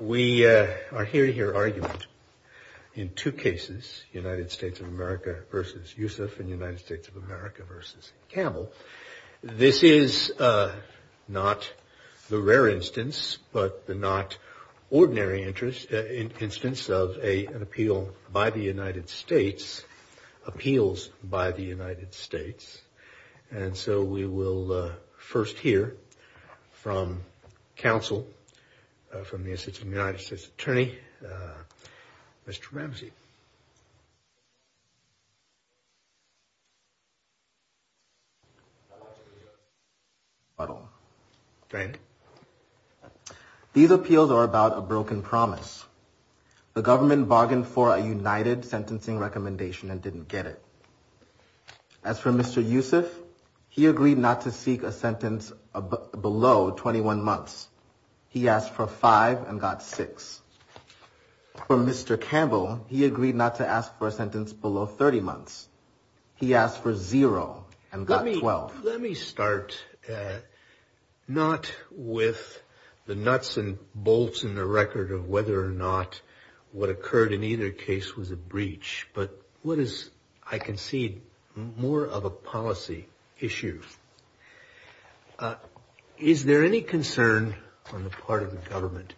We are here to hear argument in two cases, United States of America v. Yusuf and United States of America v. Campbell. This is not the rare instance, but the not ordinary instance of an appeal by the United States, appeals by the United States. And so we will first hear from counsel from the Assistant United States Attorney, Mr. Ramsey. Mr. Ramsey These appeals are about a broken promise. The government bargained for a united sentencing recommendation and didn't get it. As for Mr. Yusuf, he agreed not to seek a sentence below 21 months. He asked for five and got six. For Mr. Campbell, he agreed not to ask for a sentence below 30 months. He asked for zero and got 12. Let me start not with the nuts and bolts in the record of whether or not what occurred in either case was a breach, but what is, I concede, more of a policy issue. Is there any concern on the part of the government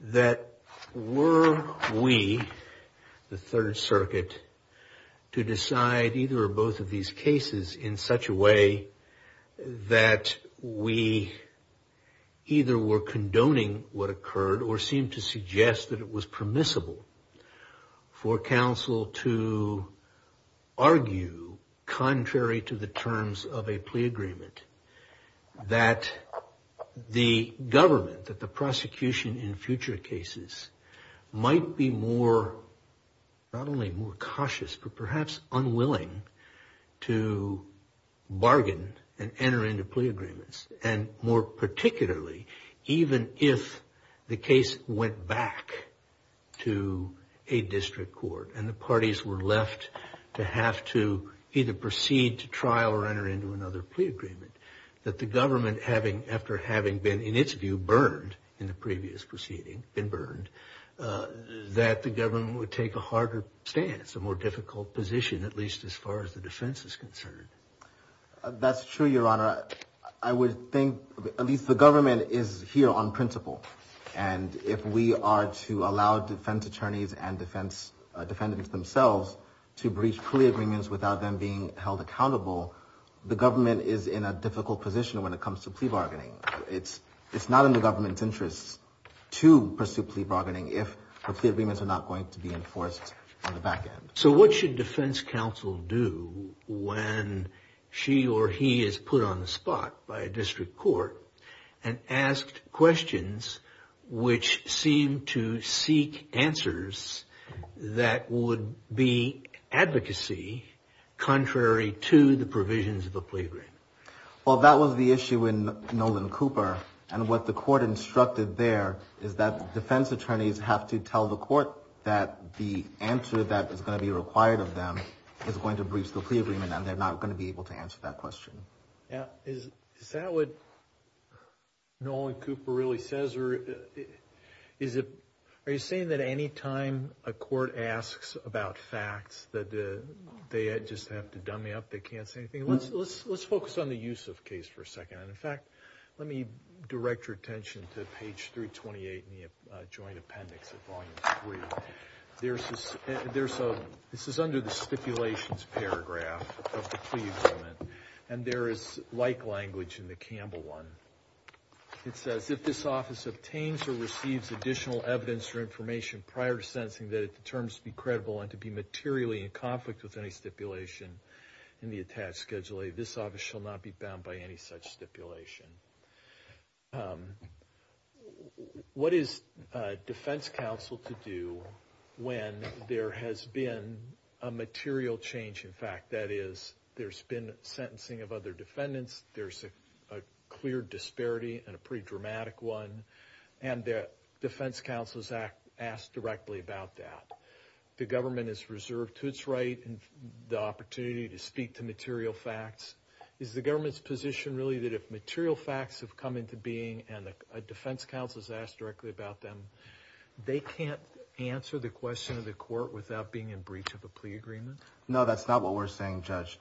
that were we, the Third Circuit, to decide either or both of these cases in such a way that we either were condoning what occurred that the government, that the prosecution in future cases might be more, not only more cautious, but perhaps unwilling to bargain and enter into plea agreements. And more particularly, even if the case went back to a district court and the parties were left to have to either proceed to trial or enter into another plea agreement, that the government, after having been, in its view, burned in the previous proceeding, been burned, that the government would take a harder stance, a more difficult position, at least as far as the defense is concerned. That's true, Your Honor. I would think, at least the government is here on principle. And if we are to allow defense attorneys and defense defendants themselves to breach plea agreements without them being held accountable, the government is in a difficult position when it comes to plea bargaining. It's not in the government's interest to pursue plea bargaining if the plea agreements are not going to be enforced on the back end. So what should defense counsel do when she or he is put on the spot by a district court and asked questions which seem to seek answers that would be advocacy contrary to the provisions of the plea agreement? Well, that was the issue in Nolan Cooper, and what the court instructed there is that defense attorneys have to tell the court that the answer that is going to be required of them is going to breach the plea agreement, and they're not going to be able to answer that question. Is that what Nolan Cooper really says? Are you saying that any time a court asks about facts that they just have to dummy up, they can't say anything? Let's focus on the Yusuf case for a second. In fact, let me direct your attention to page 328 in the Joint Appendix at Volume 3. This is under the stipulations paragraph of the plea agreement, and there is like language in the Campbell one. It says, if this office obtains or receives additional evidence or information prior to sentencing that it determines to be credible and to be materially in conflict with any stipulation in the attached Schedule A, this office shall not be bound by any such stipulation. What is defense counsel to do when there has been a material change in fact? That is, there's been sentencing of other defendants, there's a clear disparity and a pretty dramatic one, and the defense counsel is asked directly about that. The government is reserved to its right and the opportunity to speak to material facts. Is the government's position really that if material facts have come into being and a defense counsel is asked directly about them, they can't answer the question of the court without being in breach of a plea agreement? No, that's not what we're saying, Judge.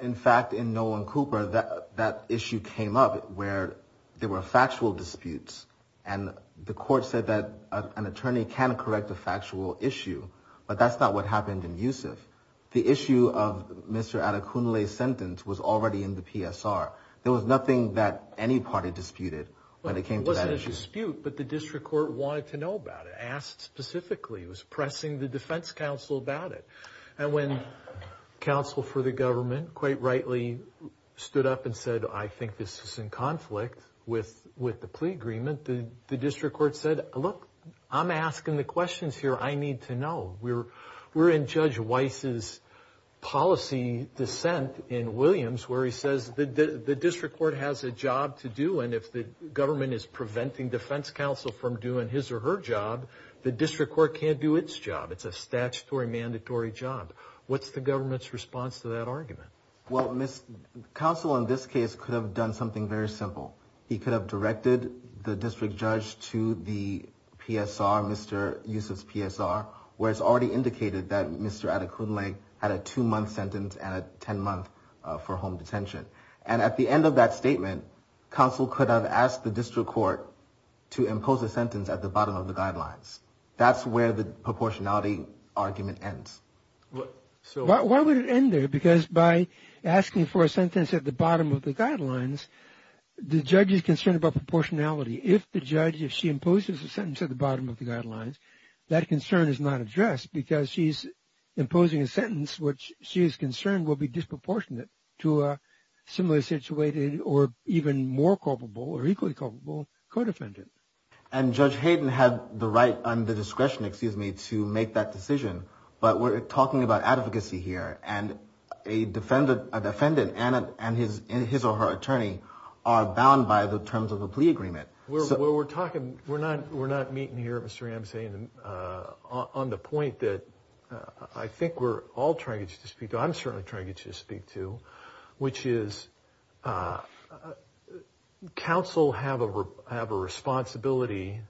In fact, in Nolan Cooper, that issue came up where there were factual disputes and the court said that an attorney can correct a factual issue, but that's not what happened in Yusuf. The issue of Mr. Adekunle's sentence was already in the PSR. There was nothing that any party disputed when it came to that issue. But the district court wanted to know about it, asked specifically. It was pressing the defense counsel about it. And when counsel for the government quite rightly stood up and said, I think this is in conflict with the plea agreement, the district court said, look, I'm asking the questions here, I need to know. We're in Judge Weiss's policy dissent in Williams where he says the district court has a job to do and if the government is preventing defense counsel from doing his or her job, the district court can't do its job. It's a statutory mandatory job. What's the government's response to that argument? Well, counsel in this case could have done something very simple. He could have directed the district judge to the PSR, Mr. Yusuf's PSR, where it's already indicated that Mr. Adekunle had a two-month sentence and a 10-month for home detention. And at the end of that statement, counsel could have asked the district court to impose a sentence at the bottom of the guidelines. That's where the proportionality argument ends. Why would it end there? Because by asking for a sentence at the bottom of the guidelines, the judge is concerned about proportionality. If the judge, if she imposes a sentence at the bottom of the guidelines, that concern is not addressed because she's imposing a sentence which she is concerned will be disproportionate to a similarly situated or even more culpable or equally culpable co-defendant. And Judge Hayden had the right and the discretion, excuse me, to make that decision. But we're talking about advocacy here. And a defendant and his or her attorney are bound by the terms of the plea agreement. We're not meeting here, Mr. Ramsey, on the point that I think we're all trying to get you to speak to, I'm certainly trying to get you to speak to, which is counsel have a responsibility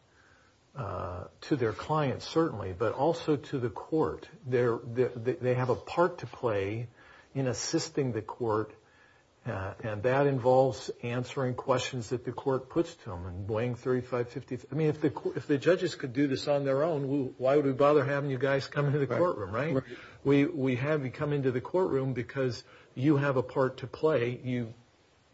to their clients, certainly, but also to the court. They have a part to play in assisting the court. And that involves answering questions that the court puts to them and weighing 35, 50. I mean, if the judges could do this on their own, why would we bother having you guys come into the courtroom, right? We have you come into the courtroom because you have a part to play, you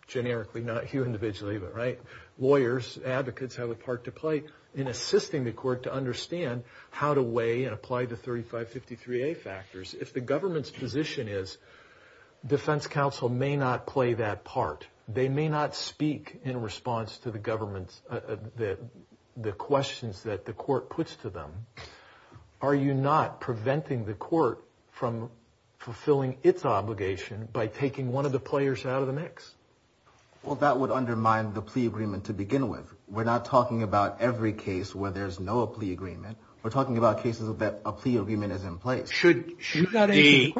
generically, not you individually, but right? Lawyers, advocates have a part to play in assisting the court to understand how to weigh and apply the 35, 53A factors. If the government's position is defense counsel may not play that part, they may not speak in response to the government's, the questions that the court puts to them, are you not preventing the court from fulfilling its obligation by taking one of the players out of the mix? Well, that would undermine the plea agreement to begin with. We're not talking about every case where there's no plea agreement. We're talking about cases that a plea agreement is in place. Should the...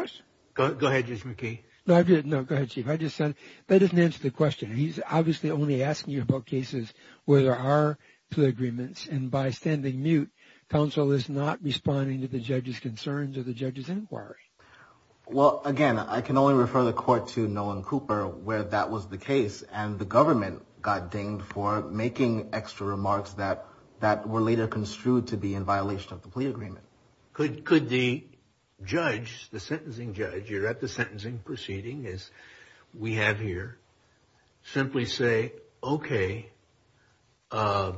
Go ahead, Judge McKee. No, go ahead, Chief. I just said that doesn't answer the question. He's obviously only asking you about cases where there are plea agreements. And by standing mute, counsel is not responding to the judge's concerns or the judge's inquiry. Well, again, I can only refer the court to Nolan Cooper where that was the case and the government got dinged for making extra remarks that were later construed to be in violation of the plea agreement. Could the judge, the sentencing judge, you're at the sentencing proceeding as we have here, simply say, okay, I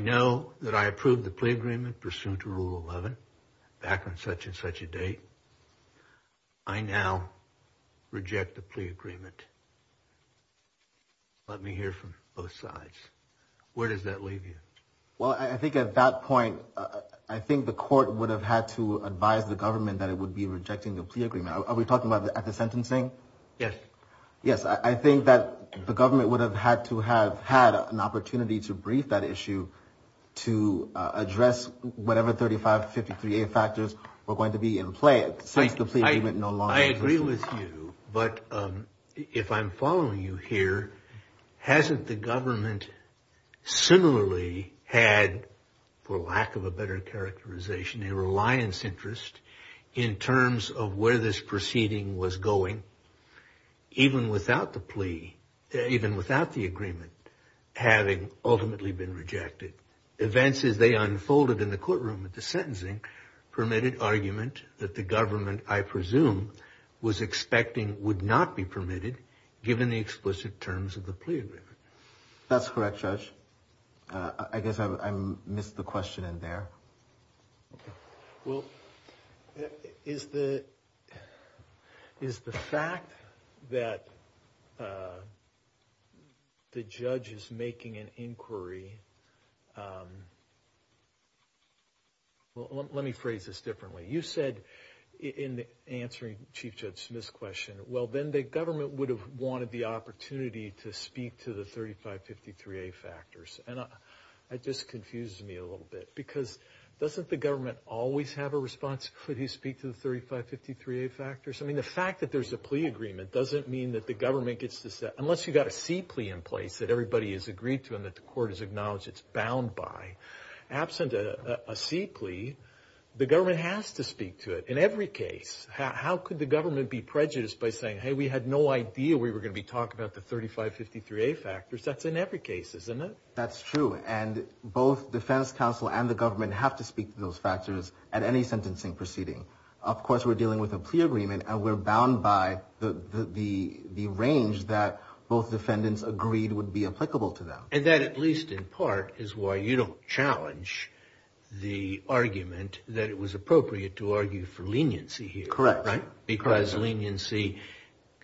know that I approved the plea agreement pursuant to Rule 11 back in such and such a day. I now reject the plea agreement. Let me hear from both sides. Where does that leave you? Well, I think at that point, I think the court would have had to advise the government that it would be rejecting the plea agreement. Are we talking about at the sentencing? Yes. Yes. I think that the government would have had to have had an opportunity to brief that issue to address whatever 3553A factors were going to be in place. I agree with you, but if I'm following you here, hasn't the government similarly had, for lack of a better characterization, a reliance interest in terms of where this proceeding was going even without the plea, even without the agreement having ultimately been rejected? Events as they unfolded in the courtroom at the sentencing permitted argument that the government, I presume, was expecting would not be permitted, given the explicit terms of the plea agreement. That's correct, Judge. I guess I missed the question in there. Well, is the fact that the judge is making an inquiry... Well, let me phrase this differently. You said in answering Chief Judge Smith's question, well, then the government would have wanted the opportunity to speak to the 3553A factors. And that just confuses me a little bit, because doesn't the government always have a responsibility to speak to the 3553A factors? I mean, the fact that there's a plea agreement doesn't mean that the government gets to say... Unless you've got a C plea in place that everybody has agreed to and that the court has acknowledged it's bound by. Absent a C plea, the government has to speak to it in every case. How could the government be prejudiced by saying, hey, we had no idea we were going to be talking about the 3553A factors? That's in every case, isn't it? That's true. And both defense counsel and the government have to speak to those factors at any sentencing proceeding. Of course, we're dealing with a plea agreement, and we're bound by the range that both defendants agreed would be applicable to them. And that, at least in part, is why you don't challenge the argument that it was appropriate to argue for leniency here. Correct. Because leniency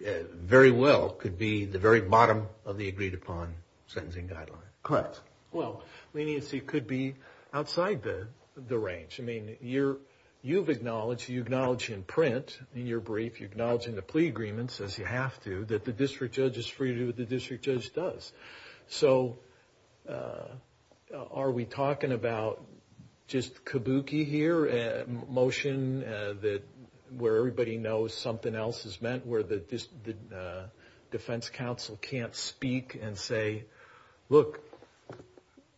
very well could be the very bottom of the agreed-upon sentencing guideline. Correct. Well, leniency could be outside the range. I mean, you've acknowledged, you acknowledge in print, in your brief, you acknowledge in the plea agreement, says you have to, that the district judge is free to do what the district judge does. So are we talking about just kabuki here, a motion that where everybody has to speak to it? Where everybody knows something else is meant? Where the defense counsel can't speak and say, look,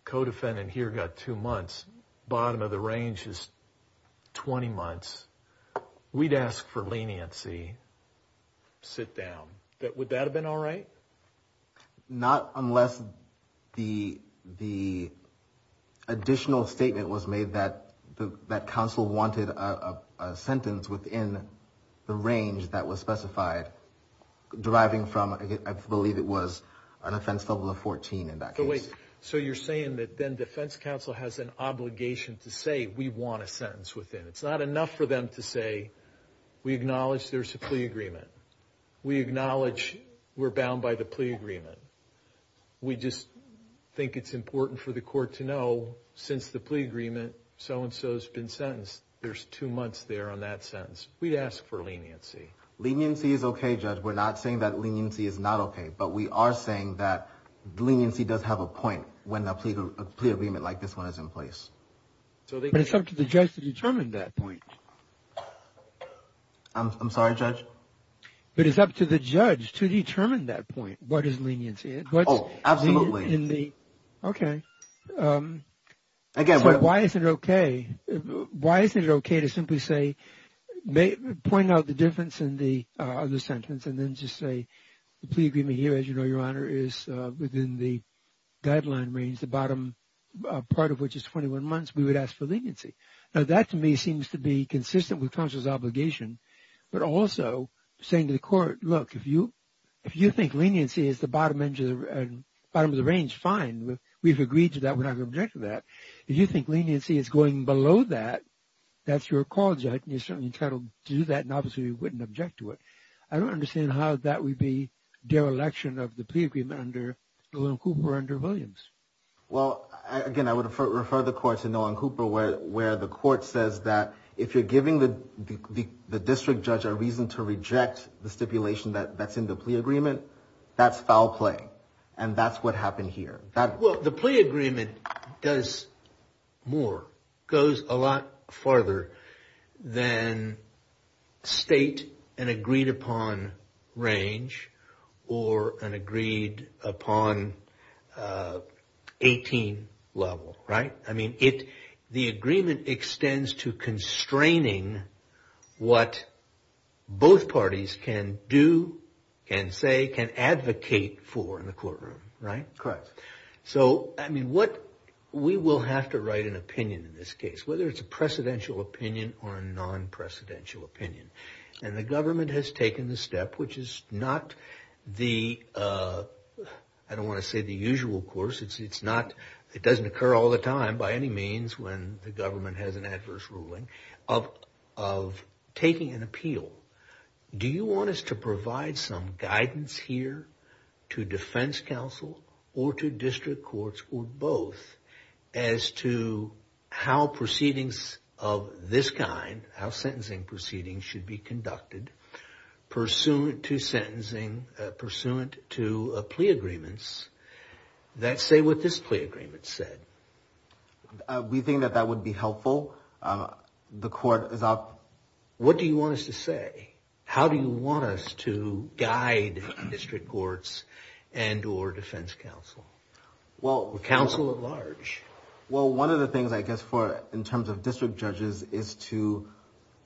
co-defendant here got two months. Bottom of the range is 20 months. We'd ask for leniency. Sit down. Would that have been all right? Not unless the additional statement was made that counsel wanted a sentence within the range that was specified, deriving from, I believe it was an offense level of 14 in that case. So you're saying that then defense counsel has an obligation to say, we want a sentence within. It's not enough for them to say, we acknowledge there's a plea agreement. We acknowledge we're bound by the plea agreement. We just think it's important for the court to know since the plea agreement, so-and-so has been sentenced. There's two months there on that sentence. We'd ask for leniency. Leniency is okay, Judge. We're not saying that leniency is not okay. But we are saying that leniency does have a point when a plea agreement like this one is in place. But it's up to the judge to determine that point. I'm sorry, Judge? But it's up to the judge to determine that point, what is leniency. Oh, absolutely. Okay. So why isn't it okay to simply say, point out the difference in the sentence and then just say, the plea agreement here, as you know, Your Honor, is within the guideline range, the bottom part of which is 21 months. We would ask for leniency. Now, that to me seems to be consistent with counsel's obligation. But also saying to the court, look, if you think leniency is the bottom of the range, fine. We've agreed to that. We're not going to object to that. If you think leniency is going below that, that's your call, Judge. I don't understand how that would be dereliction of the plea agreement under Nolan Cooper or under Williams. Well, again, I would refer the court to Nolan Cooper where the court says that if you're giving the district judge a reason to reject the stipulation that's in the plea agreement, that's foul play. And that's what happened here. Well, the plea agreement does more, goes a lot farther than state an agreed upon range or an agreed upon 18 level, right? I mean, the agreement extends to constraining what both parties can do, can say, can advocate for in the courtroom, right? Correct. So, I mean, we will have to write an opinion in this case, whether it's a precedential opinion or a non-precedential opinion. And the government has taken the step, which is not the, I don't want to say the usual course, it doesn't occur all the time by any means when the government has an adverse ruling, of taking an appeal. Do you want us to provide some guidance here to defense counsel or to district courts or both as to how proceedings of this kind, how sentencing proceedings should be conducted pursuant to sentencing, pursuant to plea agreements that say what this plea agreement said? We think that that would be helpful. The court is up. What do you want us to say? How do you want us to guide district courts and or defense counsel? Well, counsel at large. Well, one of the things I guess for in terms of district judges is to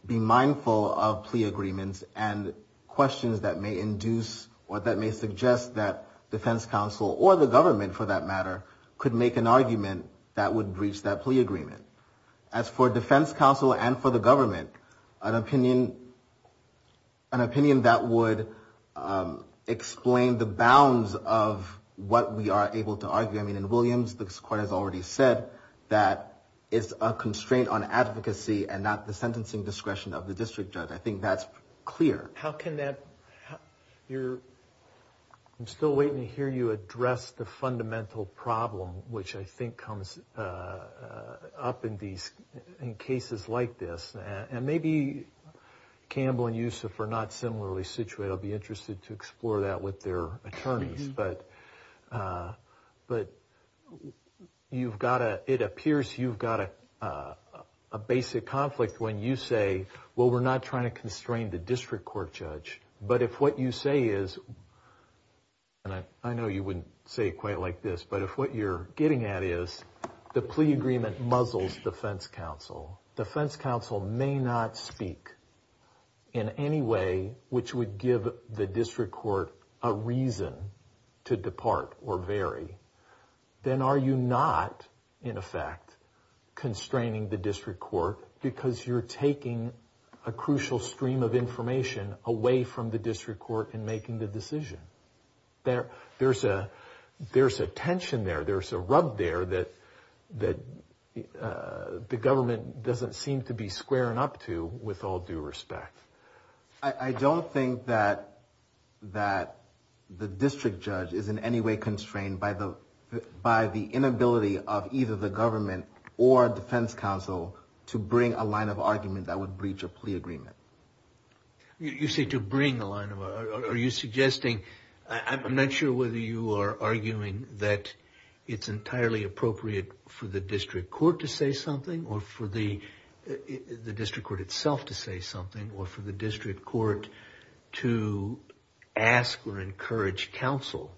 be mindful of plea agreements and questions that may induce or that may suggest that defense counsel or the government for that matter could make an argument that would breach that plea agreement. As for defense counsel and for the government, an opinion that would explain the bounds of what we are able to argue. I mean, in Williams, the court has already said that it's a constraint on advocacy and not the sentencing discretion of the district judge. I think that's clear. I'm still waiting to hear you address the fundamental problem, which I think comes up in cases like this. And maybe Campbell and Yusuf are not similarly situated. I'll be interested to explore that with their attorneys. But you've got to. It appears you've got a basic conflict when you say, well, we're not trying to constrain the district court judge. But if what you say is and I know you wouldn't say quite like this, but if what you're getting at is the plea agreement muzzles defense counsel. Defense counsel may not speak in any way which would give the district court a reason to depart or vary. Then are you not in effect constraining the district court because you're taking a crucial stream of information away from the district court in making the decision? There's a tension there. There's a rub there that the government doesn't seem to be squaring up to with all due respect. I don't think that the district judge is in any way constrained by the inability of either the government or defense counsel to bring a line of argument that would breach a plea agreement. You say to bring a line of argument. It's entirely appropriate for the district court to say something or for the district court itself to say something or for the district court to ask or encourage counsel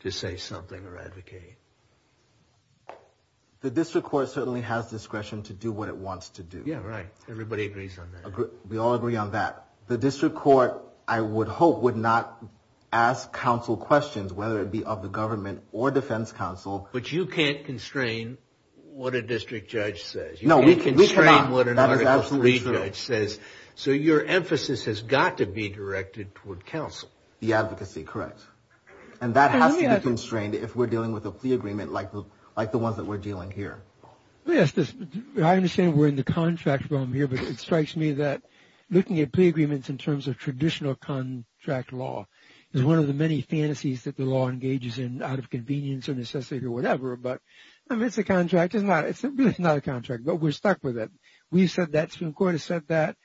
to say something or advocate. The district court certainly has discretion to do what it wants to do. Everybody agrees on that. The district court, I would hope, would not ask counsel questions whether it be of the government or defense counsel. But you can't constrain what a district judge says. So your emphasis has got to be directed toward counsel. The advocacy, correct. And that has to be constrained if we're dealing with a plea agreement like the ones that we're dealing here. Yes, I understand we're in the contract realm here, but it strikes me that looking at plea agreements in terms of traditional contract law is one of the many fantasies that the law engages in out of convenience or necessity or whatever. But I mean, it's a contract. It's not a contract, but we're stuck with it. We've said that, Supreme Court has said that,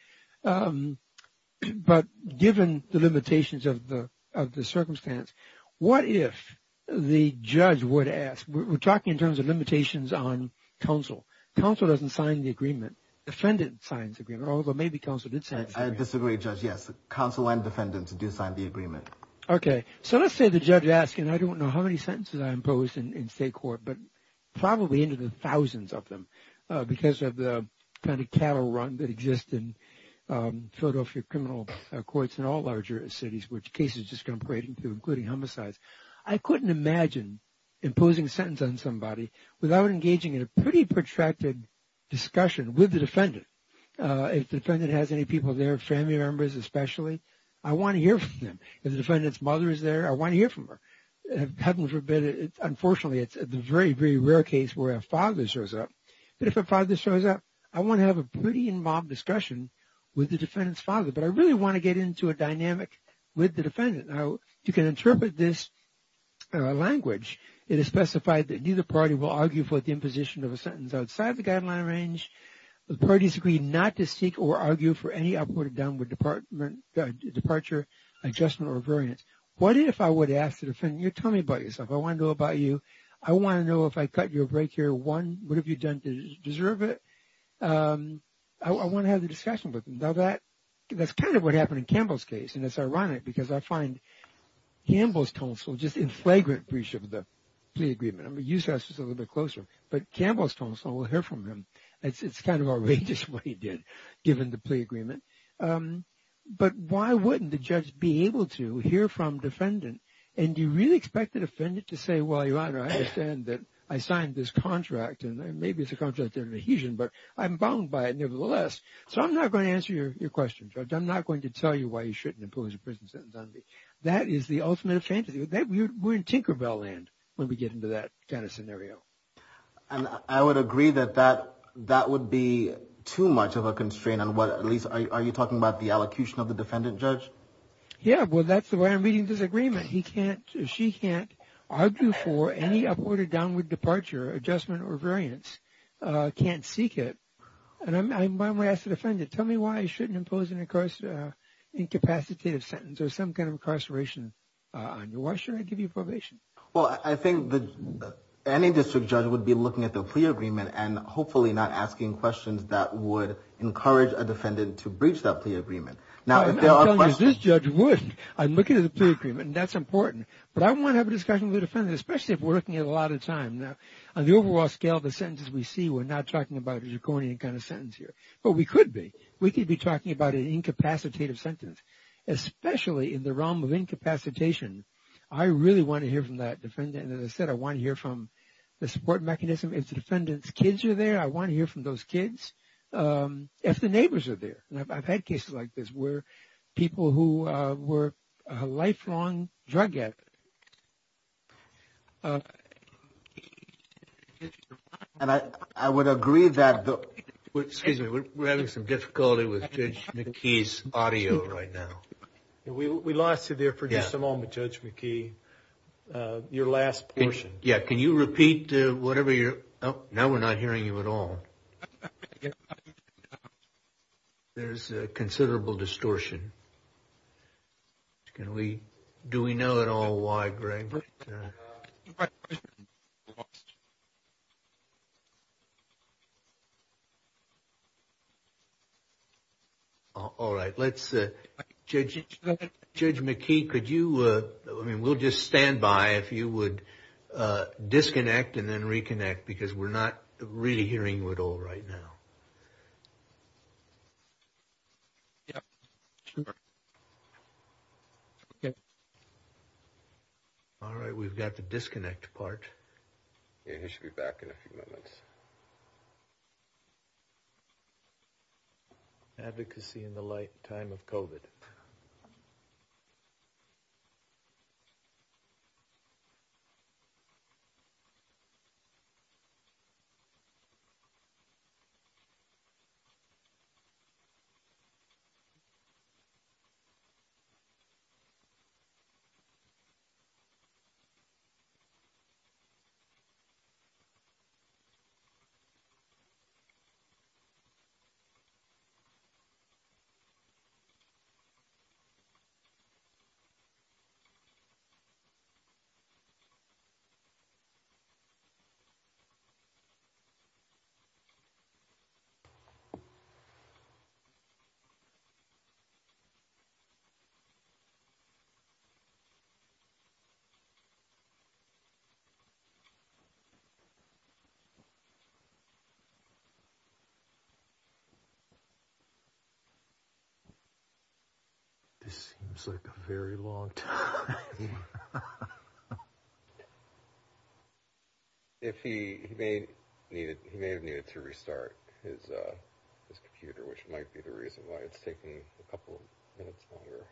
but given the limitations of the circumstance, what if the judge would ask? We're talking in terms of limitations on counsel. Counsel doesn't sign the agreement. Defendant signs the agreement, although maybe counsel did sign the agreement. Okay, so let's say the judge asks, and I don't know how many sentences I imposed in state court, but probably into the thousands of them because of the kind of cattle run that exists in Philadelphia criminal courts in all larger cities, which cases just come parading through, including homicides. I couldn't imagine imposing a sentence on somebody without engaging in a pretty protracted discussion with the defendant. If the defendant has any people there, family members especially, I want to hear from them. If the defendant's mother is there, I want to hear from her. Heaven forbid, unfortunately, it's a very, very rare case where a father shows up, but if a father shows up, I want to have a pretty involved discussion with the defendant's father, but I really want to get into a dynamic with the defendant. Now, you can interpret this language, it is specified that neither party will argue for the imposition of a sentence outside the guideline range. The parties agree not to seek or argue for any upward or downward departure, adjustment, or variance. What if I would ask the defendant, you tell me about yourself, I want to know about you, I want to know if I cut your break here one, what have you done to deserve it? I want to have the discussion with him. Now, that's kind of what happened in Campbell's case, and it's ironic because I find Campbell's counsel just in flagrant breach of the plea agreement. I mean, USAS was a little bit closer, but Campbell's counsel will hear from him. It's kind of outrageous what he did, given the plea agreement. But why wouldn't the judge be able to hear from defendant, and do you really expect the defendant to say, well, Your Honor, I understand that I signed this contract, and maybe it's a contract of adhesion, but I'm bound by it nevertheless. So, I'm not going to answer your question, Judge, I'm not going to tell you why you shouldn't impose a prison sentence on me. That is the ultimate fantasy, we're in Tinker Bell land when we get into that kind of scenario. And I would agree that that would be too much of a constraint on what, at least, are you talking about the allocution of the defendant, Judge? Yeah, well, that's the way I'm reading this agreement, he can't, she can't argue for any upward or downward departure, adjustment, or variance, can't seek it. And I'm going to ask the defendant, tell me why I shouldn't impose an incapacitative sentence, or some kind of incarceration. Why shouldn't I give you probation? Well, I think that any district judge would be looking at the plea agreement, and hopefully not asking questions that would encourage a defendant to breach that plea agreement. Now, if there are questions... I'm telling you, this judge wouldn't. I'm looking at the plea agreement, and that's important. But I want to have a discussion with the defendant, especially if we're looking at a lot of time. Now, on the overall scale of the sentences we see, we're not talking about a draconian kind of sentence here. But we could be. We could be talking about an incapacitative sentence, especially in the realm of incapacitation. I really want to hear from that defendant, and as I said, I want to hear from the support mechanism. If the defendant's kids are there, I want to hear from those kids. If the neighbors are there, and I've had cases like this where people who were lifelong drug addicts, and I would agree that... Excuse me, we're having some difficulty with Judge McKee's audio right now. We lost you there for just a moment, Judge McKee. Your last portion. Yeah, can you repeat whatever you're... Oh, now we're not hearing you at all. There's considerable distortion. Do we know at all why, Greg? All right, let's... Judge McKee, could you... I mean, we'll just stand by if you would disconnect and then reconnect, because we're not really hearing you at all right now. Yeah, sure. All right, we've got the disconnect part. Yeah, he should be back in a few moments. Advocacy in the light time of COVID. Thank you. This seems like a very long time. If he may have needed to restart his... His computer, which might be the reason why it's taking a couple of minutes longer.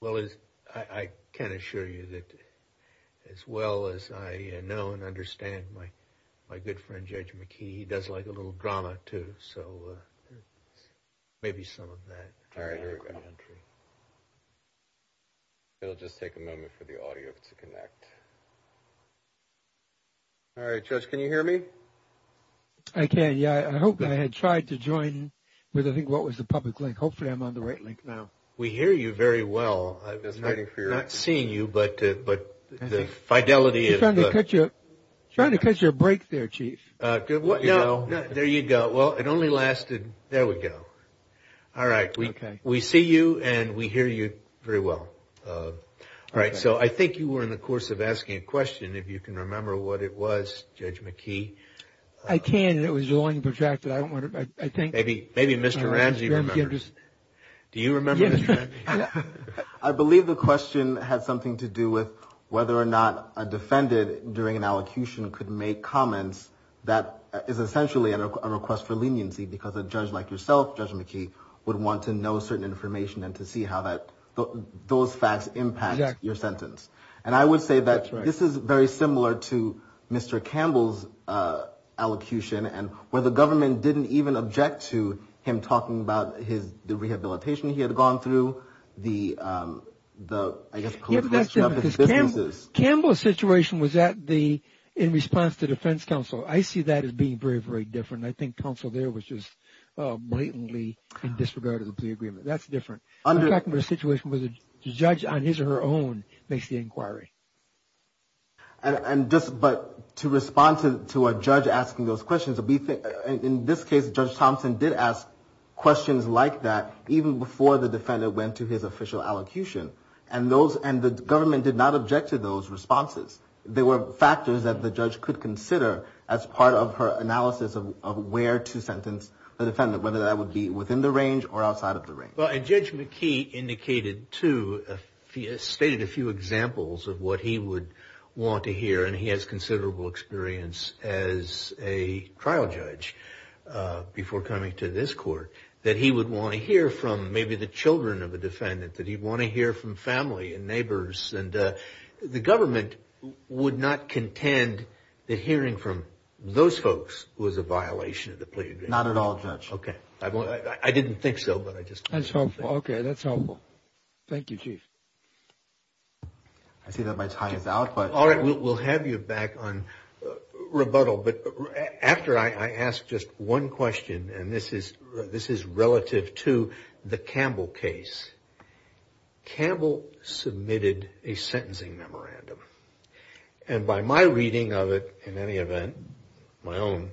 Well, I can assure you that as well as I know and understand my good friend, Judge McKee, he does like a little drama too, so maybe some of that. It'll just take a moment for the audio to connect. All right, Judge, can you hear me? I can, yeah. I hope I had tried to join with, I think, what was the public link. Hopefully, I'm on the right link now. We hear you very well. I was not seeing you, but the fidelity is... Trying to catch your break there, Chief. There you go. Well, it only lasted... There we go. All right, we see you and we hear you very well. All right, so I think you were in the course of asking a question, if you can remember what it was, Judge McKee. I can. It was long and protracted. Maybe Mr. Ramsey remembers. Do you remember, Mr. Ramsey? I believe the question had something to do with whether or not a defendant during an allocution could make comments that is essentially a request for leniency, because a judge like yourself, Judge McKee, would want to know certain information and to see how those facts impact your sentence. And I would say that this is very similar to Mr. Campbell's allocution, and where the government didn't even object to him talking about the rehabilitation he had gone through. I think that's because Campbell's situation was in response to defense counsel. I see that as being very, very different. I think counsel there was just blatantly in disregard of the plea agreement. That's different. I'm talking about a situation where the judge, on his or her own, makes the inquiry. But to respond to a judge asking those questions, in this case, Judge Thompson did ask questions like that, even before the defendant went to his defense counsel. And the government did not object to those responses. There were factors that the judge could consider as part of her analysis of where to sentence the defendant, whether that would be within the range or outside of the range. Well, and Judge McKee indicated, too, stated a few examples of what he would want to hear, and he has considerable experience as a trial judge, before coming to this court, that he would want to hear from maybe the children of a defendant. That he'd want to hear from family and neighbors. And the government would not contend that hearing from those folks was a violation of the plea agreement. Not at all, Judge. Okay. I didn't think so, but I just... That's helpful. Okay, that's helpful. Thank you, Chief. I see that my time is out, but... All right, we'll have you back on rebuttal, but after I ask just one question, and this is relative to the Campbell case. Campbell submitted a sentencing memorandum. And by my reading of it, in any event, my own,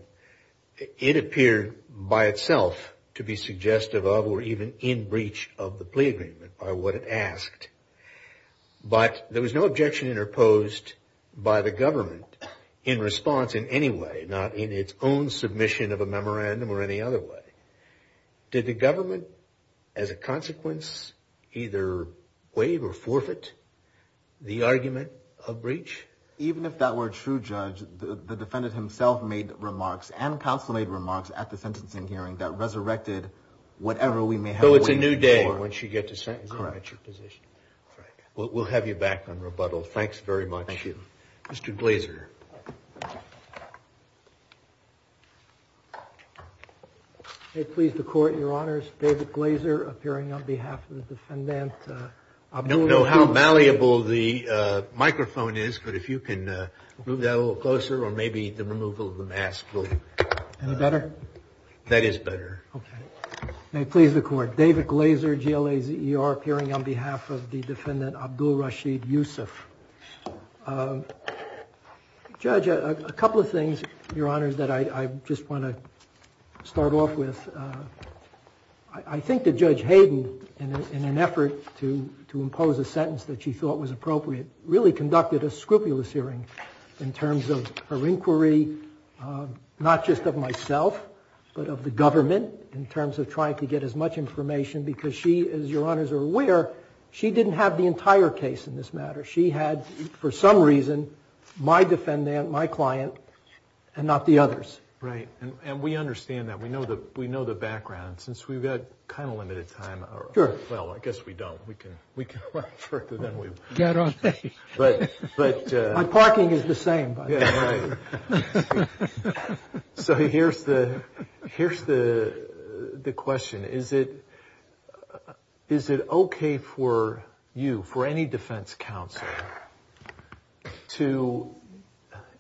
it appeared by itself to be suggestive of or even in breach of the plea agreement, by what it asked. But there was no objection interposed by the government in response in any way, not in its own submission of a memorandum or any other way. Did the government, as a consequence, either waive or forfeit the argument of breach? Even if that were true, Judge, the defendant himself made remarks and counsel made remarks at the sentencing hearing that resurrected whatever we may have... So it's a new day once you get to sentencing. Correct. We'll have you back on rebuttal. Thanks very much. Thank you. Mr. Glazer. May it please the Court, Your Honors, David Glazer appearing on behalf of the defendant. I don't know how malleable the microphone is, but if you can move that a little closer, or maybe the removal of the mask will... Any better? That is better. May it please the Court, David Glazer, GLAZER, appearing on behalf of the defendant, Abdul Rashid Yusuf. Judge, a couple of things, Your Honors, that I just want to start off with. I think that Judge Hayden, in an effort to impose a sentence that she thought was appropriate, really conducted a scrupulous hearing in terms of her inquiry, not just of myself, but of the government, in terms of trying to get as much information, because she, as Your Honors are aware, she didn't have the entire case in this matter. She had, for some reason, my defendant, my client, and not the others. Right. And we understand that. We know the background. Since we've got kind of limited time... Sure. Well, I guess we don't. We can run further than we... My parking is the same, by the way. So here's the question. Is it okay for you, for any defense counsel, to,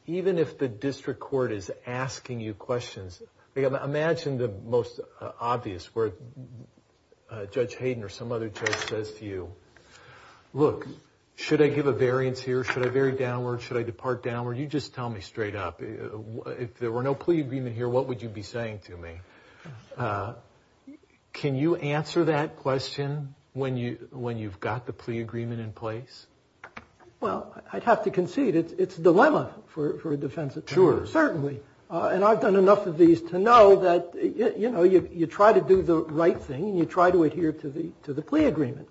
even if the district court is asking you questions, imagine the most obvious, where Judge Hayden or some other judge says to you, look, should I give a variance here, should I vary downward, should I depart downward? You just tell me straight up. If there were no plea agreement here, what would you be saying to me? Can you answer that question when you've got the plea agreement in place? Well, I'd have to concede it's a dilemma for a defense attorney. Sure, certainly. And I've done enough of these to know that, you know, you try to do the right thing, and you try to adhere to the plea agreement.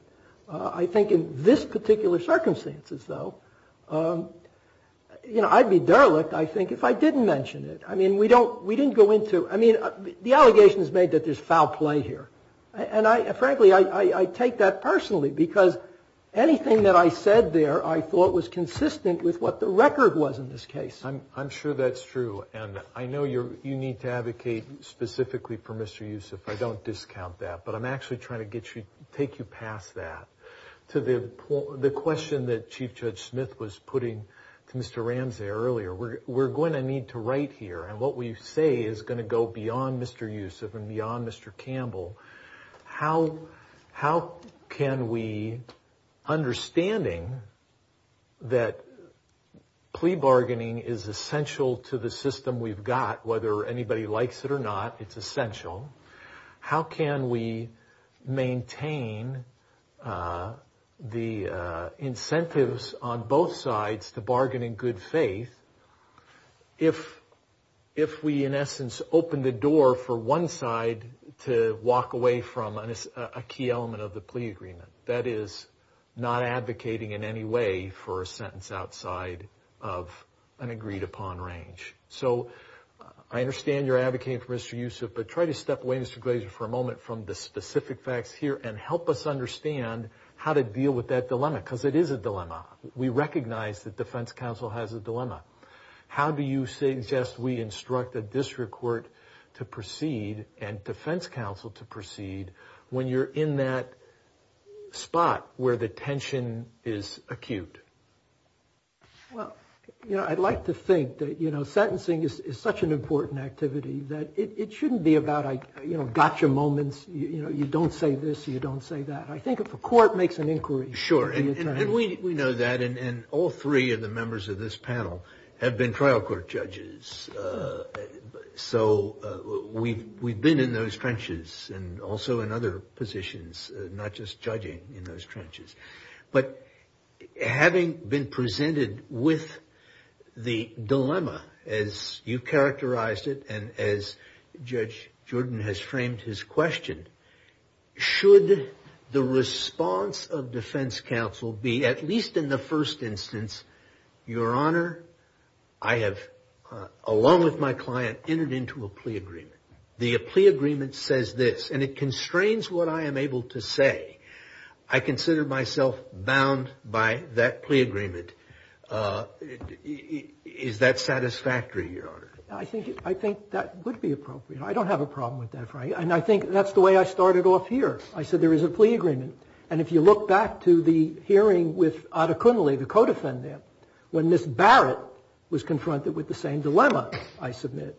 I think in this particular circumstances, though, I'd be derelict, I think, if I didn't mention it. I mean, we didn't go into... I mean, the allegation is made that there's foul play here. And frankly, I take that personally, because anything that I said there I thought was consistent with what the record was in this case. I'm sure that's true. And I know you need to advocate specifically for Mr. Youssef. I don't discount that. But I'm actually trying to take you past that to the question that Chief Judge Smith was putting to Mr. Ramsey earlier. We're going to need to write here, and what we say is going to go beyond Mr. Youssef and beyond Mr. Campbell. How can we, understanding that plea bargaining is the only thing that we can do, how can we go beyond Mr. Youssef and beyond Mr. Campbell? It is essential to the system we've got, whether anybody likes it or not, it's essential. How can we maintain the incentives on both sides to bargain in good faith if we, in essence, open the door for one side to walk away from a key element of the plea agreement? That is, not advocating in any way for a sentence outside of an agreement. That is, not advocating in any way for a sentence outside of an agreement. So I understand you're advocating for Mr. Youssef, but try to step away, Mr. Glazer, for a moment from the specific facts here and help us understand how to deal with that dilemma. Because it is a dilemma. We recognize that defense counsel has a dilemma. How do you suggest we instruct a district court to proceed and defense counsel to proceed when you're in that spot where the tension is acute? Well, you know, I'd like to think that, you know, sentencing is such an important activity that it shouldn't be about, you know, gotcha moments, you know, you don't say this, you don't say that. I think if a court makes an inquiry... Sure, and we know that, and all three of the members of this panel have been trial court judges. So we've been in those trenches and also in other positions, not just judging in those trenches. But having been presented with the dilemma, as you characterized it, and as Judge Jordan has framed his question, should the response of defense counsel be, at least in the first instance, your Honor, I have, along with my client, entered into a plea agreement. The plea agreement says this, and it constrains what I am able to say. I consider myself bound by that plea agreement. Is that satisfactory, Your Honor? I think that would be appropriate. I don't have a problem with that, and I think that's the way I started off here. I said there is a plea agreement, and if you look back to the hearing with Adekunle, the co-defendant, when Ms. Barrett was confronted with the same dilemma, I submit,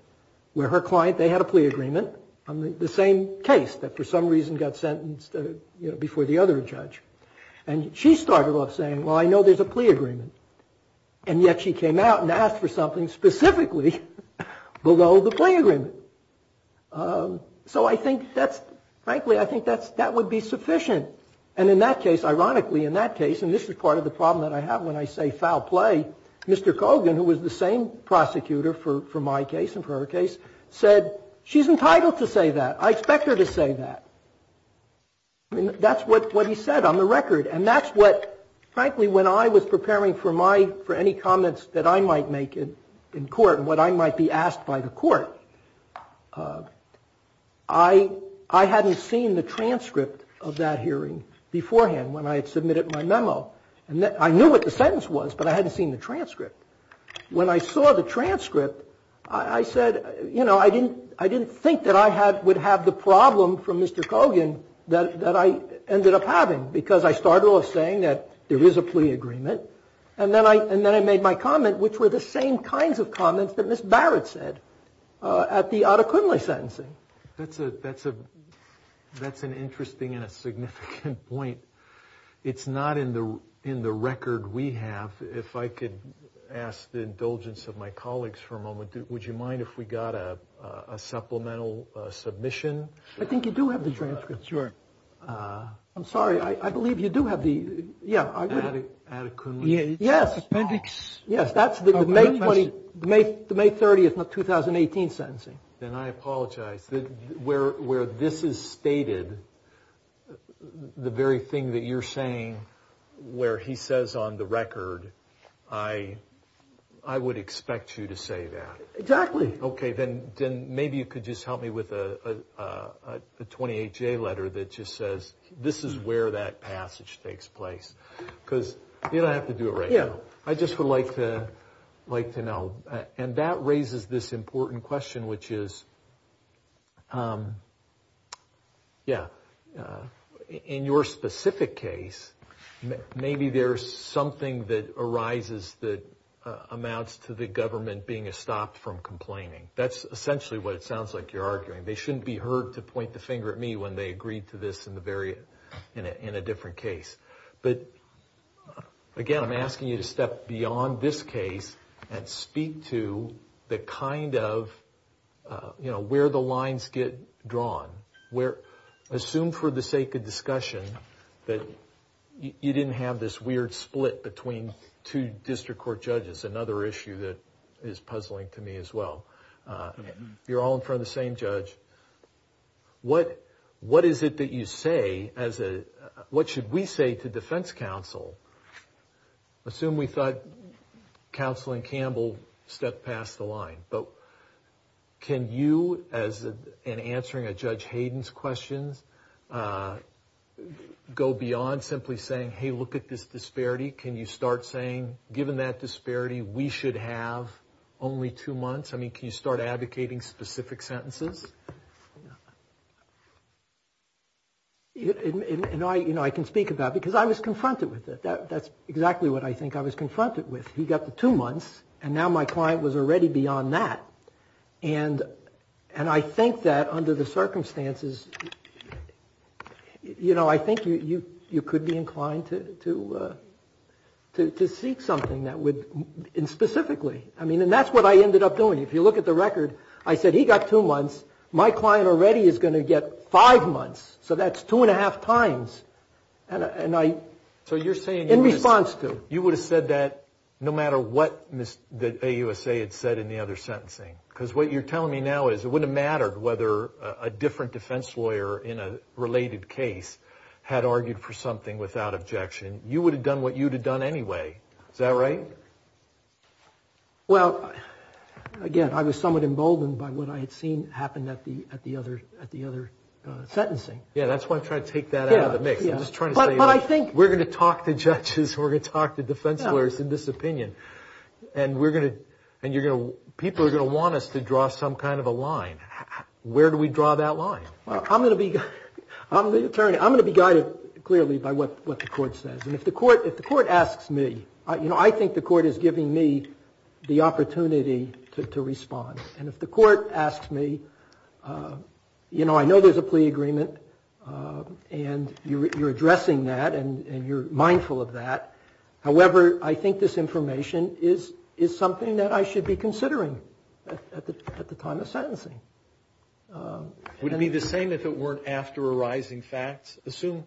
where her client, they had a plea agreement. The same case that for some reason got sentenced before the other judge. And she started off saying, well, I know there's a plea agreement, and yet she came out and asked for something specifically below the plea agreement. So I think that's, frankly, I think that would be sufficient. And in that case, ironically, in that case, and this is part of the problem that I have when I say foul play, Mr. Kogan, who was the same prosecutor for my case and for her case, said, she's entitled to a plea agreement. I'm entitled to say that. I expect her to say that. I mean, that's what he said on the record. And that's what, frankly, when I was preparing for my, for any comments that I might make in court and what I might be asked by the court, I hadn't seen the transcript of that hearing beforehand when I had submitted my memo. I knew what the sentence was, but I hadn't seen the transcript. When I saw the transcript, I said, you know, I didn't think that I would have the problem from Mr. Kogan that I ended up having, because I started off saying that there is a plea agreement. And then I made my comment, which were the same kinds of comments that Ms. Barrett said at the Adekunle sentencing. That's an interesting and a significant point. It's not in the record we have. If I could ask the indulgence of my colleagues for a moment, would you mind if we got a supplemental submission? I think you do have the transcript. I'm sorry. I believe you do have the, yeah. Adekunle? Yes. Yes, that's the May 30th of 2018 sentencing. Then I apologize. Where this is stated, the very thing that you're saying, where he says on the record, I would expect you to say that. Exactly. Okay, then maybe you could just help me with a 28-J letter that just says, this is where that passage takes place. Because you don't have to do it right now. I just would like to know, and that raises this important question, which is, yeah. In your specific case, maybe there's something that arises that amounts to the government being stopped from complaining. That's essentially what it sounds like you're arguing. They shouldn't be heard to point the finger at me when they agreed to this in a different case. But again, I'm asking you to step beyond this case and speak to the kind of, you know, where the lines get drawn. Assume for the sake of discussion that you didn't have this weird split between two district court judges. And this is another issue that is puzzling to me as well. You're all in front of the same judge. What is it that you say as a, what should we say to defense counsel? Assume we thought Counselor Campbell stepped past the line. But can you, in answering a Judge Hayden's questions, go beyond simply saying, hey, look at this disparity? Can you start saying, given that disparity, we should have only two months? I mean, can you start advocating specific sentences? You know, I can speak about it, because I was confronted with it. That's exactly what I think I was confronted with. He got the two months, and now my client was already beyond that. And I think that under the circumstances, you know, I think you could be inclined to seek something that would, and specifically, I mean, and that's what I ended up doing. If you look at the record, I said he got two months, my client already is going to get five months. So that's two and a half times. So you're saying you would have said that no matter what the AUSA had said in the other sentencing? Because what you're telling me now is it wouldn't have mattered whether a different defense lawyer in a related case had argued for something without objection. You would have done what you would have done anyway. Is that right? Well, again, I was somewhat emboldened by what I had seen happen at the other sentencing. Yeah, that's why I'm trying to take that out of the mix. We're going to talk to judges, we're going to talk to defense lawyers in this opinion, and people are going to want us to draw some kind of a line. Where do we draw that line? I'm going to be guided clearly by what the court says. And if the court asks me, you know, I think the court is giving me the opportunity to respond. And if the court asks me, you know, I know there's a plea agreement and you're addressing that and you're mindful of that. However, I think this information is something that I should be considering at the time of sentencing. Would it be the same if it weren't after arising facts? Assume,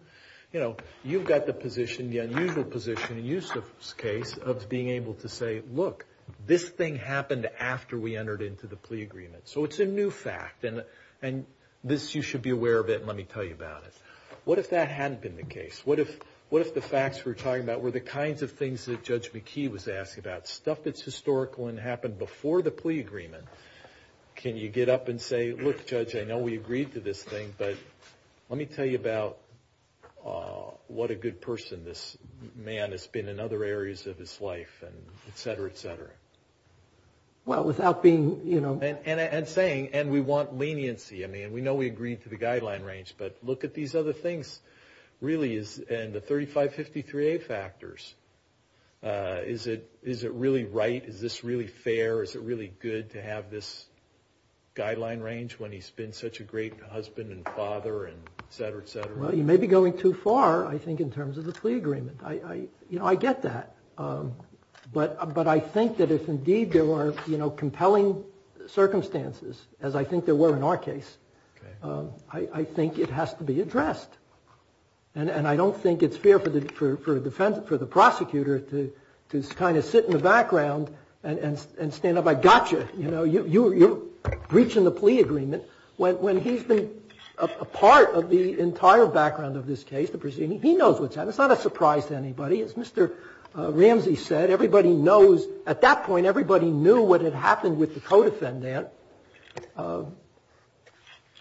you know, you've got the position, the unusual position in Eustis' case of being able to say, look, this thing happened after we entered into the plea agreement. So it's a new fact, and this you should be aware of it and let me tell you about it. What if that hadn't been the case? What if the facts we're talking about were the kinds of things that Judge McKee was asking about, stuff that's historical and happened before the plea agreement? Can you get up and say, look, Judge, I know we agreed to this thing, but let me tell you about what a good person this man has been in other areas of his life, and et cetera, et cetera. And saying, and we want leniency. I mean, we know we agreed to the guideline range, but look at these other things, really, and the 3553A factors. Is it really right? Is this really fair? Is it really good to have this guideline range when he's been such a great husband and father and et cetera, et cetera? Well, you may be going too far, I think, in terms of the plea agreement. You know, I get that, but I think that if indeed there were compelling circumstances, as I think there were in our case, I think it has to be addressed. And I don't think it's fair for the prosecutor to kind of sit in the background and stand up like, gotcha, you know, you're breaching the plea agreement. When he's been a part of the entire background of this case, the proceeding, he knows what's happened. It's not a surprise to anybody. As Mr. Ramsey said, everybody knows, at that point, everybody knew what had happened with the co-defendant.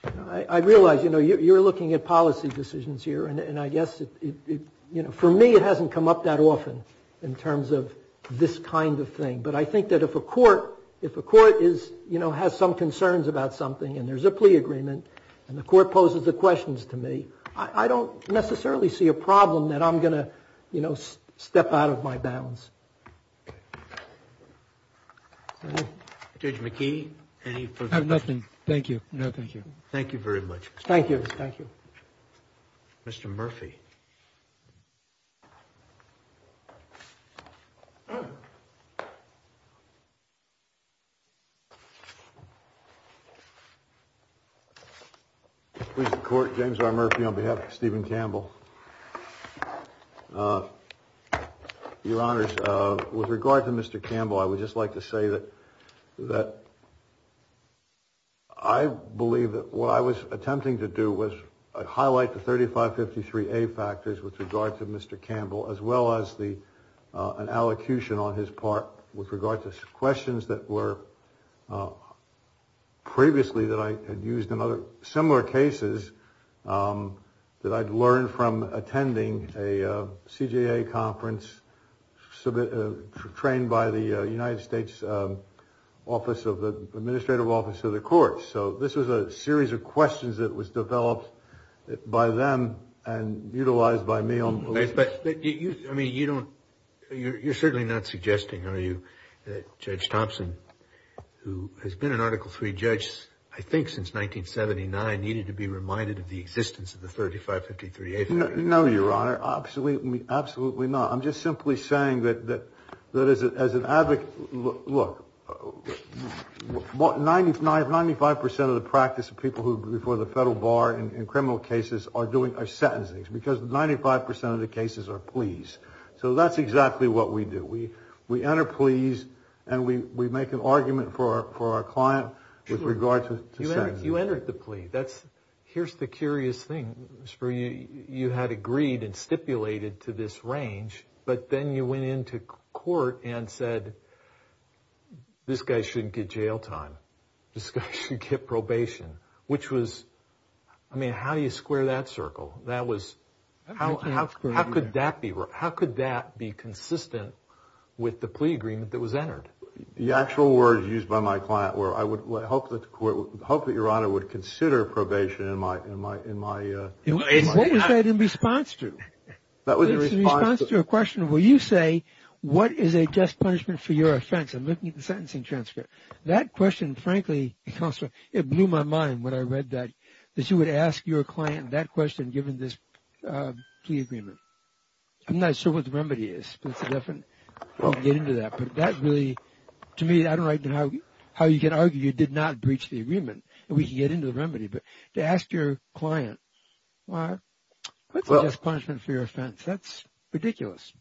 But I realize, you know, you're looking at policy decisions here, and I guess, you know, for me it hasn't come up that often in terms of this kind of thing. But I think that if a court is, you know, has some concerns about something and there's a plea agreement and the court poses the questions to me, I don't necessarily see a problem that I'm going to, you know, step out of my bounds. Judge McKee, any further questions? I have nothing. Thank you. No, thank you. Thank you very much. Thank you. Thank you. Mr. Murphy. Please, the court. James R. Murphy on behalf of Stephen Campbell. Your Honor, with regard to Mr. Campbell, I would just like to say that that. I believe that what I was attempting to do was highlight the thirty five fifty three factors with regard to Mr. Campbell, as well as the an allocution on his part with regard to questions that were previously that I had used in other similar cases that I'd learned from Mr. Campbell, from attending a CGA conference, trained by the United States Office of the Administrative Office of the Court. So this was a series of questions that was developed by them and utilized by me. But I mean, you don't you're certainly not suggesting, are you, Judge Thompson, who has been an Article three judge, that this I think since nineteen seventy nine needed to be reminded of the existence of the thirty five fifty three. No, Your Honor. Absolutely. Absolutely not. I'm just simply saying that that that is as an advocate. Look, what ninety nine ninety five percent of the practice of people who before the federal bar in criminal cases are doing are sentencing because ninety five percent of the cases are pleas. So that's exactly what we do. We we enter pleas and we make an argument for our client with regard to you. You entered the plea. That's here's the curious thing for you. You had agreed and stipulated to this range. But then you went into court and said this guy shouldn't get jail time. This guy should get probation, which was I mean, how do you square that circle? That was how how could that be? How could that be consistent with the plea agreement that was entered? The actual words used by my client were I would hope that the court would hope that Your Honor would consider probation in my in my in my. What was that in response to? That was a response to a question. Will you say what is a just punishment for your offense? I'm looking at the sentencing transcript. That question, frankly, it blew my mind when I read that, that you would ask your client that question given this plea agreement. I'm not sure what the remedy is, but it's a different way to get into that. But that really to me, I don't know how how you can argue you did not breach the agreement. And we can get into the remedy. But to ask your client, well, that's a just punishment for your offense. That's ridiculous.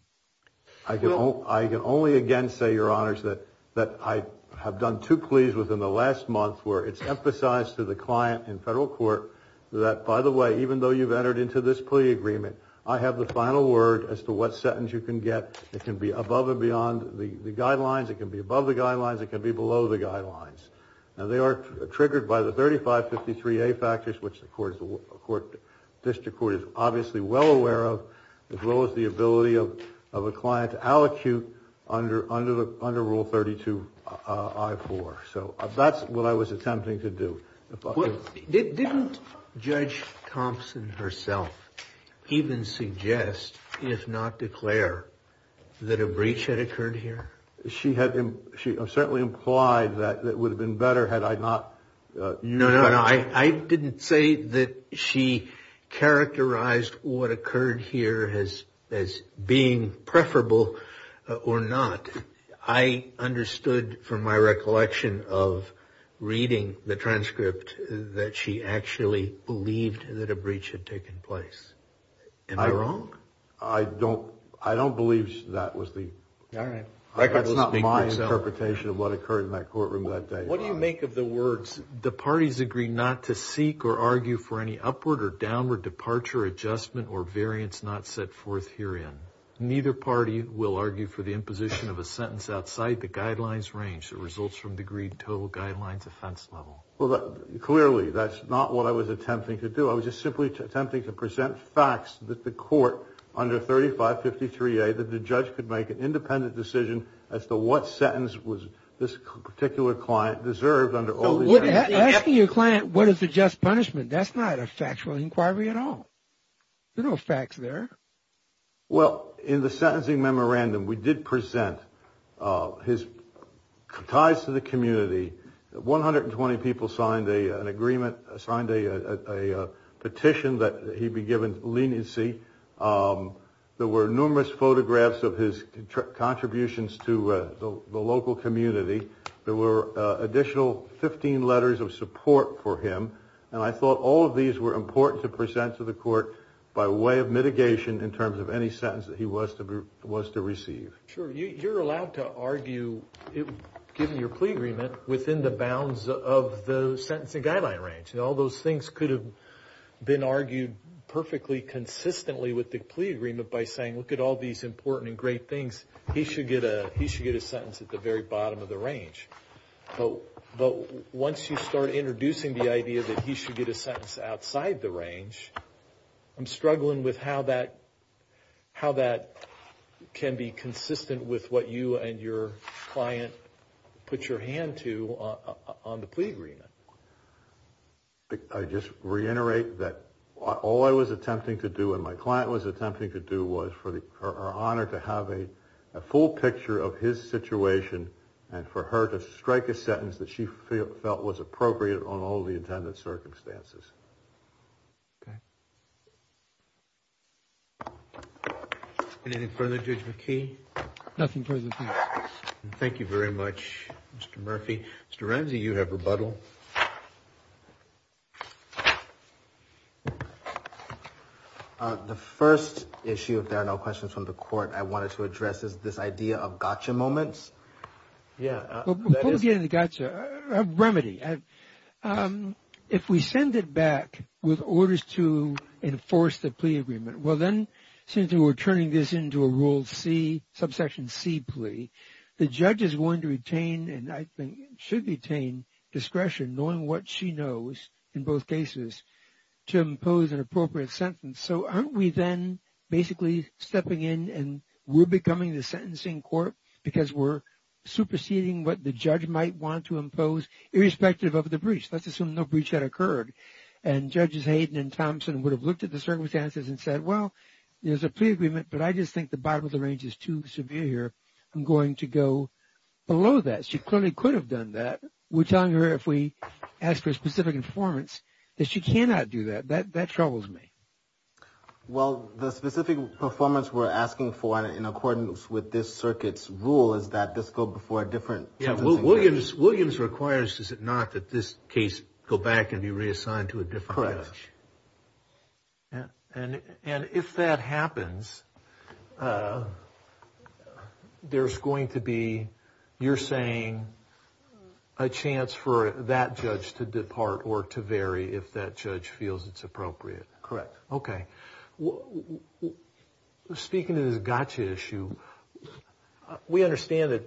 I don't I can only again say, Your Honors, that that I have done two pleas within the last month where it's emphasized to the client in federal court that, by the way, even though you've entered into this plea agreement, I have the final word as to what sentence you can get. It can be above and beyond the guidelines. It can be above the guidelines. It can be below the guidelines and they are triggered by the thirty five fifty three factors, which the court court district court is obviously well aware of, as well as the ability of of a client to allocute under under the under rule thirty two. So that's what I was attempting to do. Didn't Judge Thompson herself even suggest, if not declare that a breach had occurred here? She had. She certainly implied that that would have been better had I not. No, no, no. I didn't say that she characterized what occurred here has as being preferable or not. I understood from my recollection of reading the transcript that she actually believed that a breach had taken place. Am I wrong? I don't I don't believe that was the. All right. That's not my interpretation of what occurred in that courtroom that day. What do you make of the words the parties agree not to seek or argue for any upward or downward departure, adjustment or variance not set forth herein. Neither party will argue for the imposition of a sentence outside the guidelines range. The results from the agreed total guidelines offense level. Well, clearly, that's not what I was attempting to do. I was just simply attempting to present facts that the court under thirty five fifty three, that the judge could make an independent decision as to what sentence was this particular client. Deserved under your client. What is the just punishment? That's not a factual inquiry at all. No facts there. Well, in the sentencing memorandum, we did present his ties to the community. One hundred and twenty people signed an agreement, signed a petition that he be given leniency. There were numerous photographs of his contributions to the local community. There were additional 15 letters of support for him. And I thought all of these were important to present to the court by way of mitigation in terms of any sentence that he was to was to receive. Sure. You're allowed to argue, given your plea agreement, within the bounds of the sentencing guideline range. And all those things could have been argued perfectly consistently with the plea agreement by saying, look at all these important and great things. He should get a he should get a sentence at the very bottom of the range. But once you start introducing the idea that he should get a sentence outside the range, I'm struggling with how that how that can be consistent with what you and your client put your hand to on the plea agreement. I just reiterate that all I was attempting to do and my client was attempting to do was for her honor to have a full picture of his situation and for her to strike a sentence that she felt was appropriate on all the intended circumstances. OK. Anything further, Judge McKee? Nothing further. Thank you very much, Mr. Murphy. Mr. Ramsey, you have rebuttal. The first issue, if there are no questions from the court, I wanted to address is this idea of gotcha moments. Yeah, we're getting the gotcha remedy. If we send it back with orders to enforce the plea agreement, well, then since we're turning this into a rule C, subsection C plea, the judge is going to retain and I think should retain discretion knowing what she knows in both cases to impose an appropriate sentence. So, aren't we then basically stepping in and we're becoming the sentencing court because we're superseding what the judge might want to impose irrespective of the breach. Let's assume no breach had occurred and Judges Hayden and Thompson would have looked at the circumstances and said, well, there's a plea agreement, but I just think the bottom of the range is too severe here. I'm going to go below that. She clearly could have done that. We're telling her if we ask for a specific performance that she cannot do that. That troubles me. Well, the specific performance we're asking for in accordance with this circuit's rule is that this go before a different sentence. Williams requires, does it not, that this case go back and be reassigned to a different judge. Correct. And if that happens, there's going to be, you're saying, a chance for that judge to depart or to vary if that judge feels it's appropriate. Correct. Okay. Speaking of this gotcha issue, we understand that,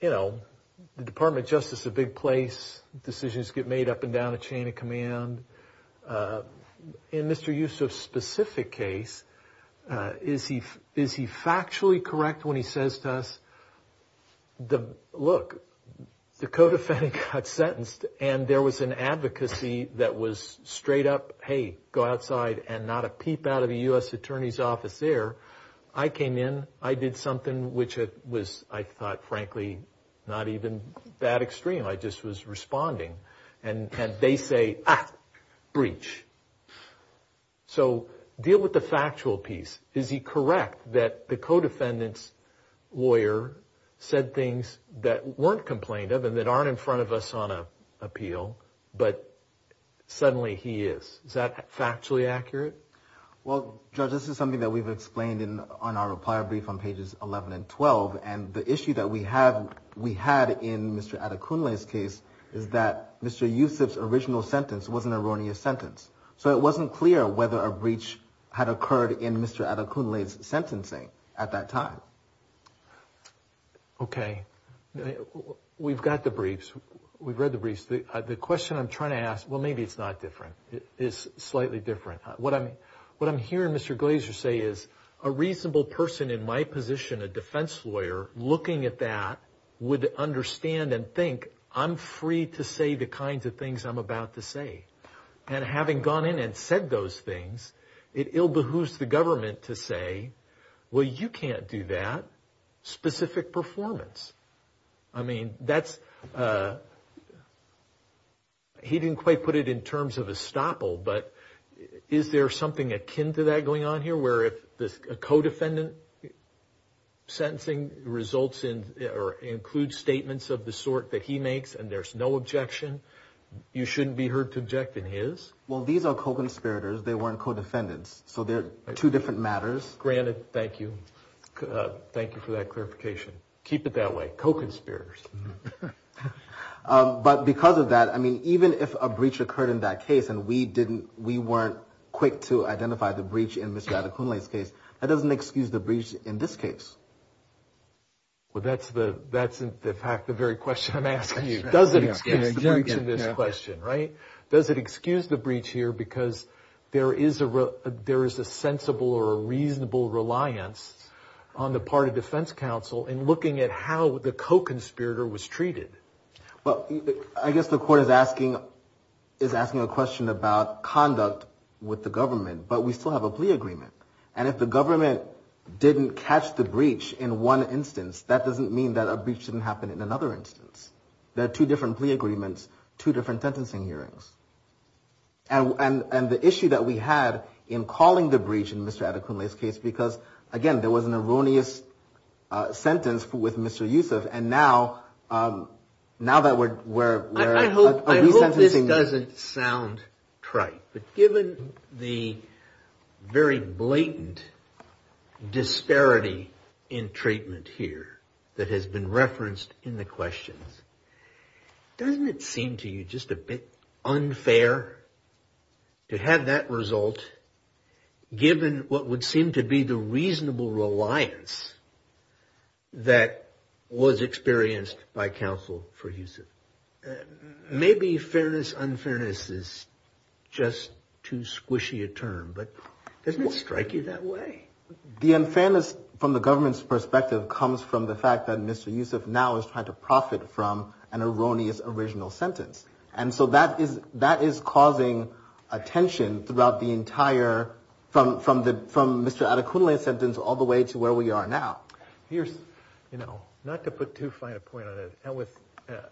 you know, the Department of Justice is a big place. Decisions get made up and down the chain of command. In Mr. Yusuf's specific case, is he factually correct when he says to us, look, the co-defendant got sentenced and there was an advocacy that was straight up, hey, go outside and not a peep out of a U.S. Attorney's office there. I came in, I did something which was, I thought, frankly, not even that extreme. I just was responding. And they say, ah, breach. So deal with the factual piece. Is he correct that the co-defendant's lawyer said things that weren't complained of and that aren't in front of us on appeal, but suddenly he is? Is that factually accurate? Well, Judge, this is something that we've explained on our reply brief on pages 11 and 12. And the issue that we had in Mr. Adekunle's case is that Mr. Yusuf's original sentence was an erroneous sentence. So it wasn't clear whether a breach had occurred in Mr. Adekunle's sentencing at that time. Okay. We've got the briefs. We've read the briefs. The question I'm trying to ask, well, maybe it's not different. It's slightly different. What I'm hearing Mr. Glazer say is a reasonable person in my position, a defense lawyer, looking at that would understand and think, I'm free to say the kinds of things I'm about to say. And having gone in and said those things, it ill behooves the government to say, well, you can't do that. Specific performance. I mean, that's – he didn't quite put it in terms of a stopple, but is there something akin to that going on here where if a co-defendant sentencing results in or includes statements of the sort that he makes and there's no objection, you shouldn't be heard to object in his? Well, these are co-conspirators. They weren't co-defendants. So they're two different matters. Granted. Thank you. Thank you for that clarification. Keep it that way. Co-conspirators. But because of that, I mean, even if a breach occurred in that case and we weren't quick to identify the breach in Mr. Adekunle's case, that doesn't excuse the breach in this case. Well, that's in fact the very question I'm asking you. Does it excuse the breach in this question, right? Does it excuse the breach here because there is a sensible or a reasonable reliance on the part of defense counsel in looking at how the co-conspirator was treated? Well, I guess the court is asking a question about conduct with the government. But we still have a plea agreement. And if the government didn't catch the breach in one instance, that doesn't mean that a breach didn't happen in another instance. There are two different plea agreements, two different sentencing hearings. And the issue that we had in calling the breach in Mr. Adekunle's case because, again, there was an erroneous sentence with Mr. Yusuf, and now that we're resentencing. I hope this doesn't sound trite. But given the very blatant disparity in treatment here that has been referenced in the questions, doesn't it seem to you just a bit unfair to have that result, given what would seem to be the reasonable reliance that was experienced by counsel for Yusuf? Maybe fairness, unfairness is just too squishy a term, but doesn't it strike you that way? The unfairness from the government's perspective comes from the fact that Mr. Yusuf now is trying to profit from an erroneous original sentence. And so that is causing a tension throughout the entire, from Mr. Adekunle's sentence all the way to where we are now. Here's, you know, not to put too fine a point on it.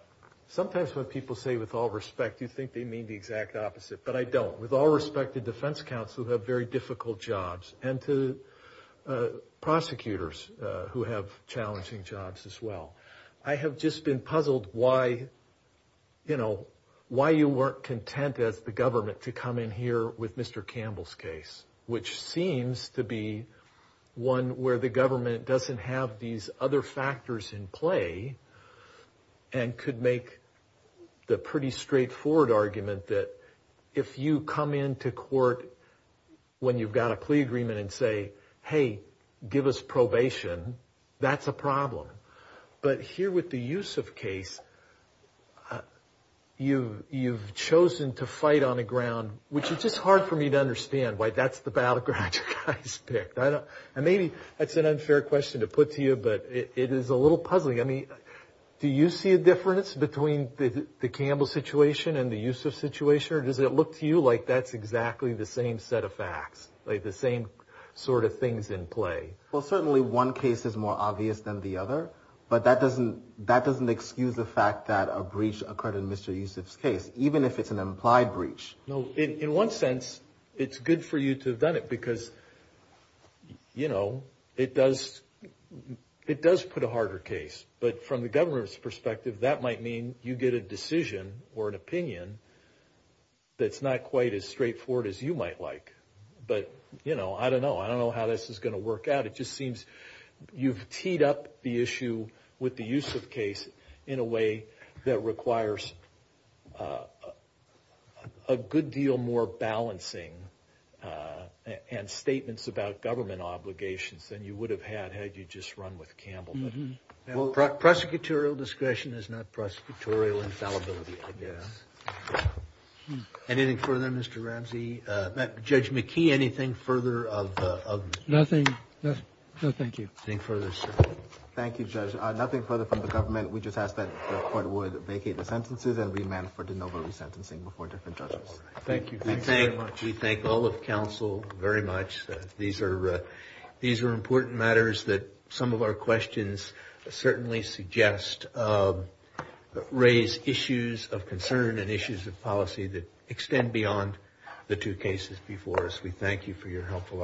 Sometimes when people say with all respect, you think they mean the exact opposite. But I don't. With all respect to defense counsel who have very difficult jobs and to prosecutors who have challenging jobs as well, I have just been puzzled why, you know, why you weren't content as the government to come in here with Mr. Campbell's case, which seems to be one where the government doesn't have these other factors in play and could make the pretty straightforward argument that if you come into court when you've got a plea agreement and say, hey, give us probation, that's a problem. But here with the Yusuf case, you've chosen to fight on the ground, which is just hard for me to understand why that's the battleground you guys picked. And maybe that's an unfair question to put to you, but it is a little puzzling. I mean, do you see a difference between the Campbell situation and the Yusuf situation? Does it look to you like that's exactly the same set of facts, like the same sort of things in play? Well, certainly one case is more obvious than the other, but that doesn't excuse the fact that a breach occurred in Mr. Yusuf's case, even if it's an implied breach. In one sense, it's good for you to have done it because, you know, it does put a harder case. But from the government's perspective, that might mean you get a decision or an opinion that's not quite as straightforward as you might like. But, you know, I don't know. I don't know how this is going to work out. It just seems you've teed up the issue with the Yusuf case in a way that requires a good deal more balancing and statements about government obligations than you would have had had you just run with Campbell. Prosecutorial discretion is not prosecutorial infallibility, I guess. Anything further, Mr. Ramsey? Judge McKee, anything further? Nothing. No, thank you. Thank you, Judge. Nothing further from the government. We just ask that the Court would vacate the sentences and remand for de novo resentencing before different judges. Thank you. We thank all of counsel very much. These are important matters that some of our questions certainly suggest raise issues of concern and issues of policy that extend beyond the two cases before us.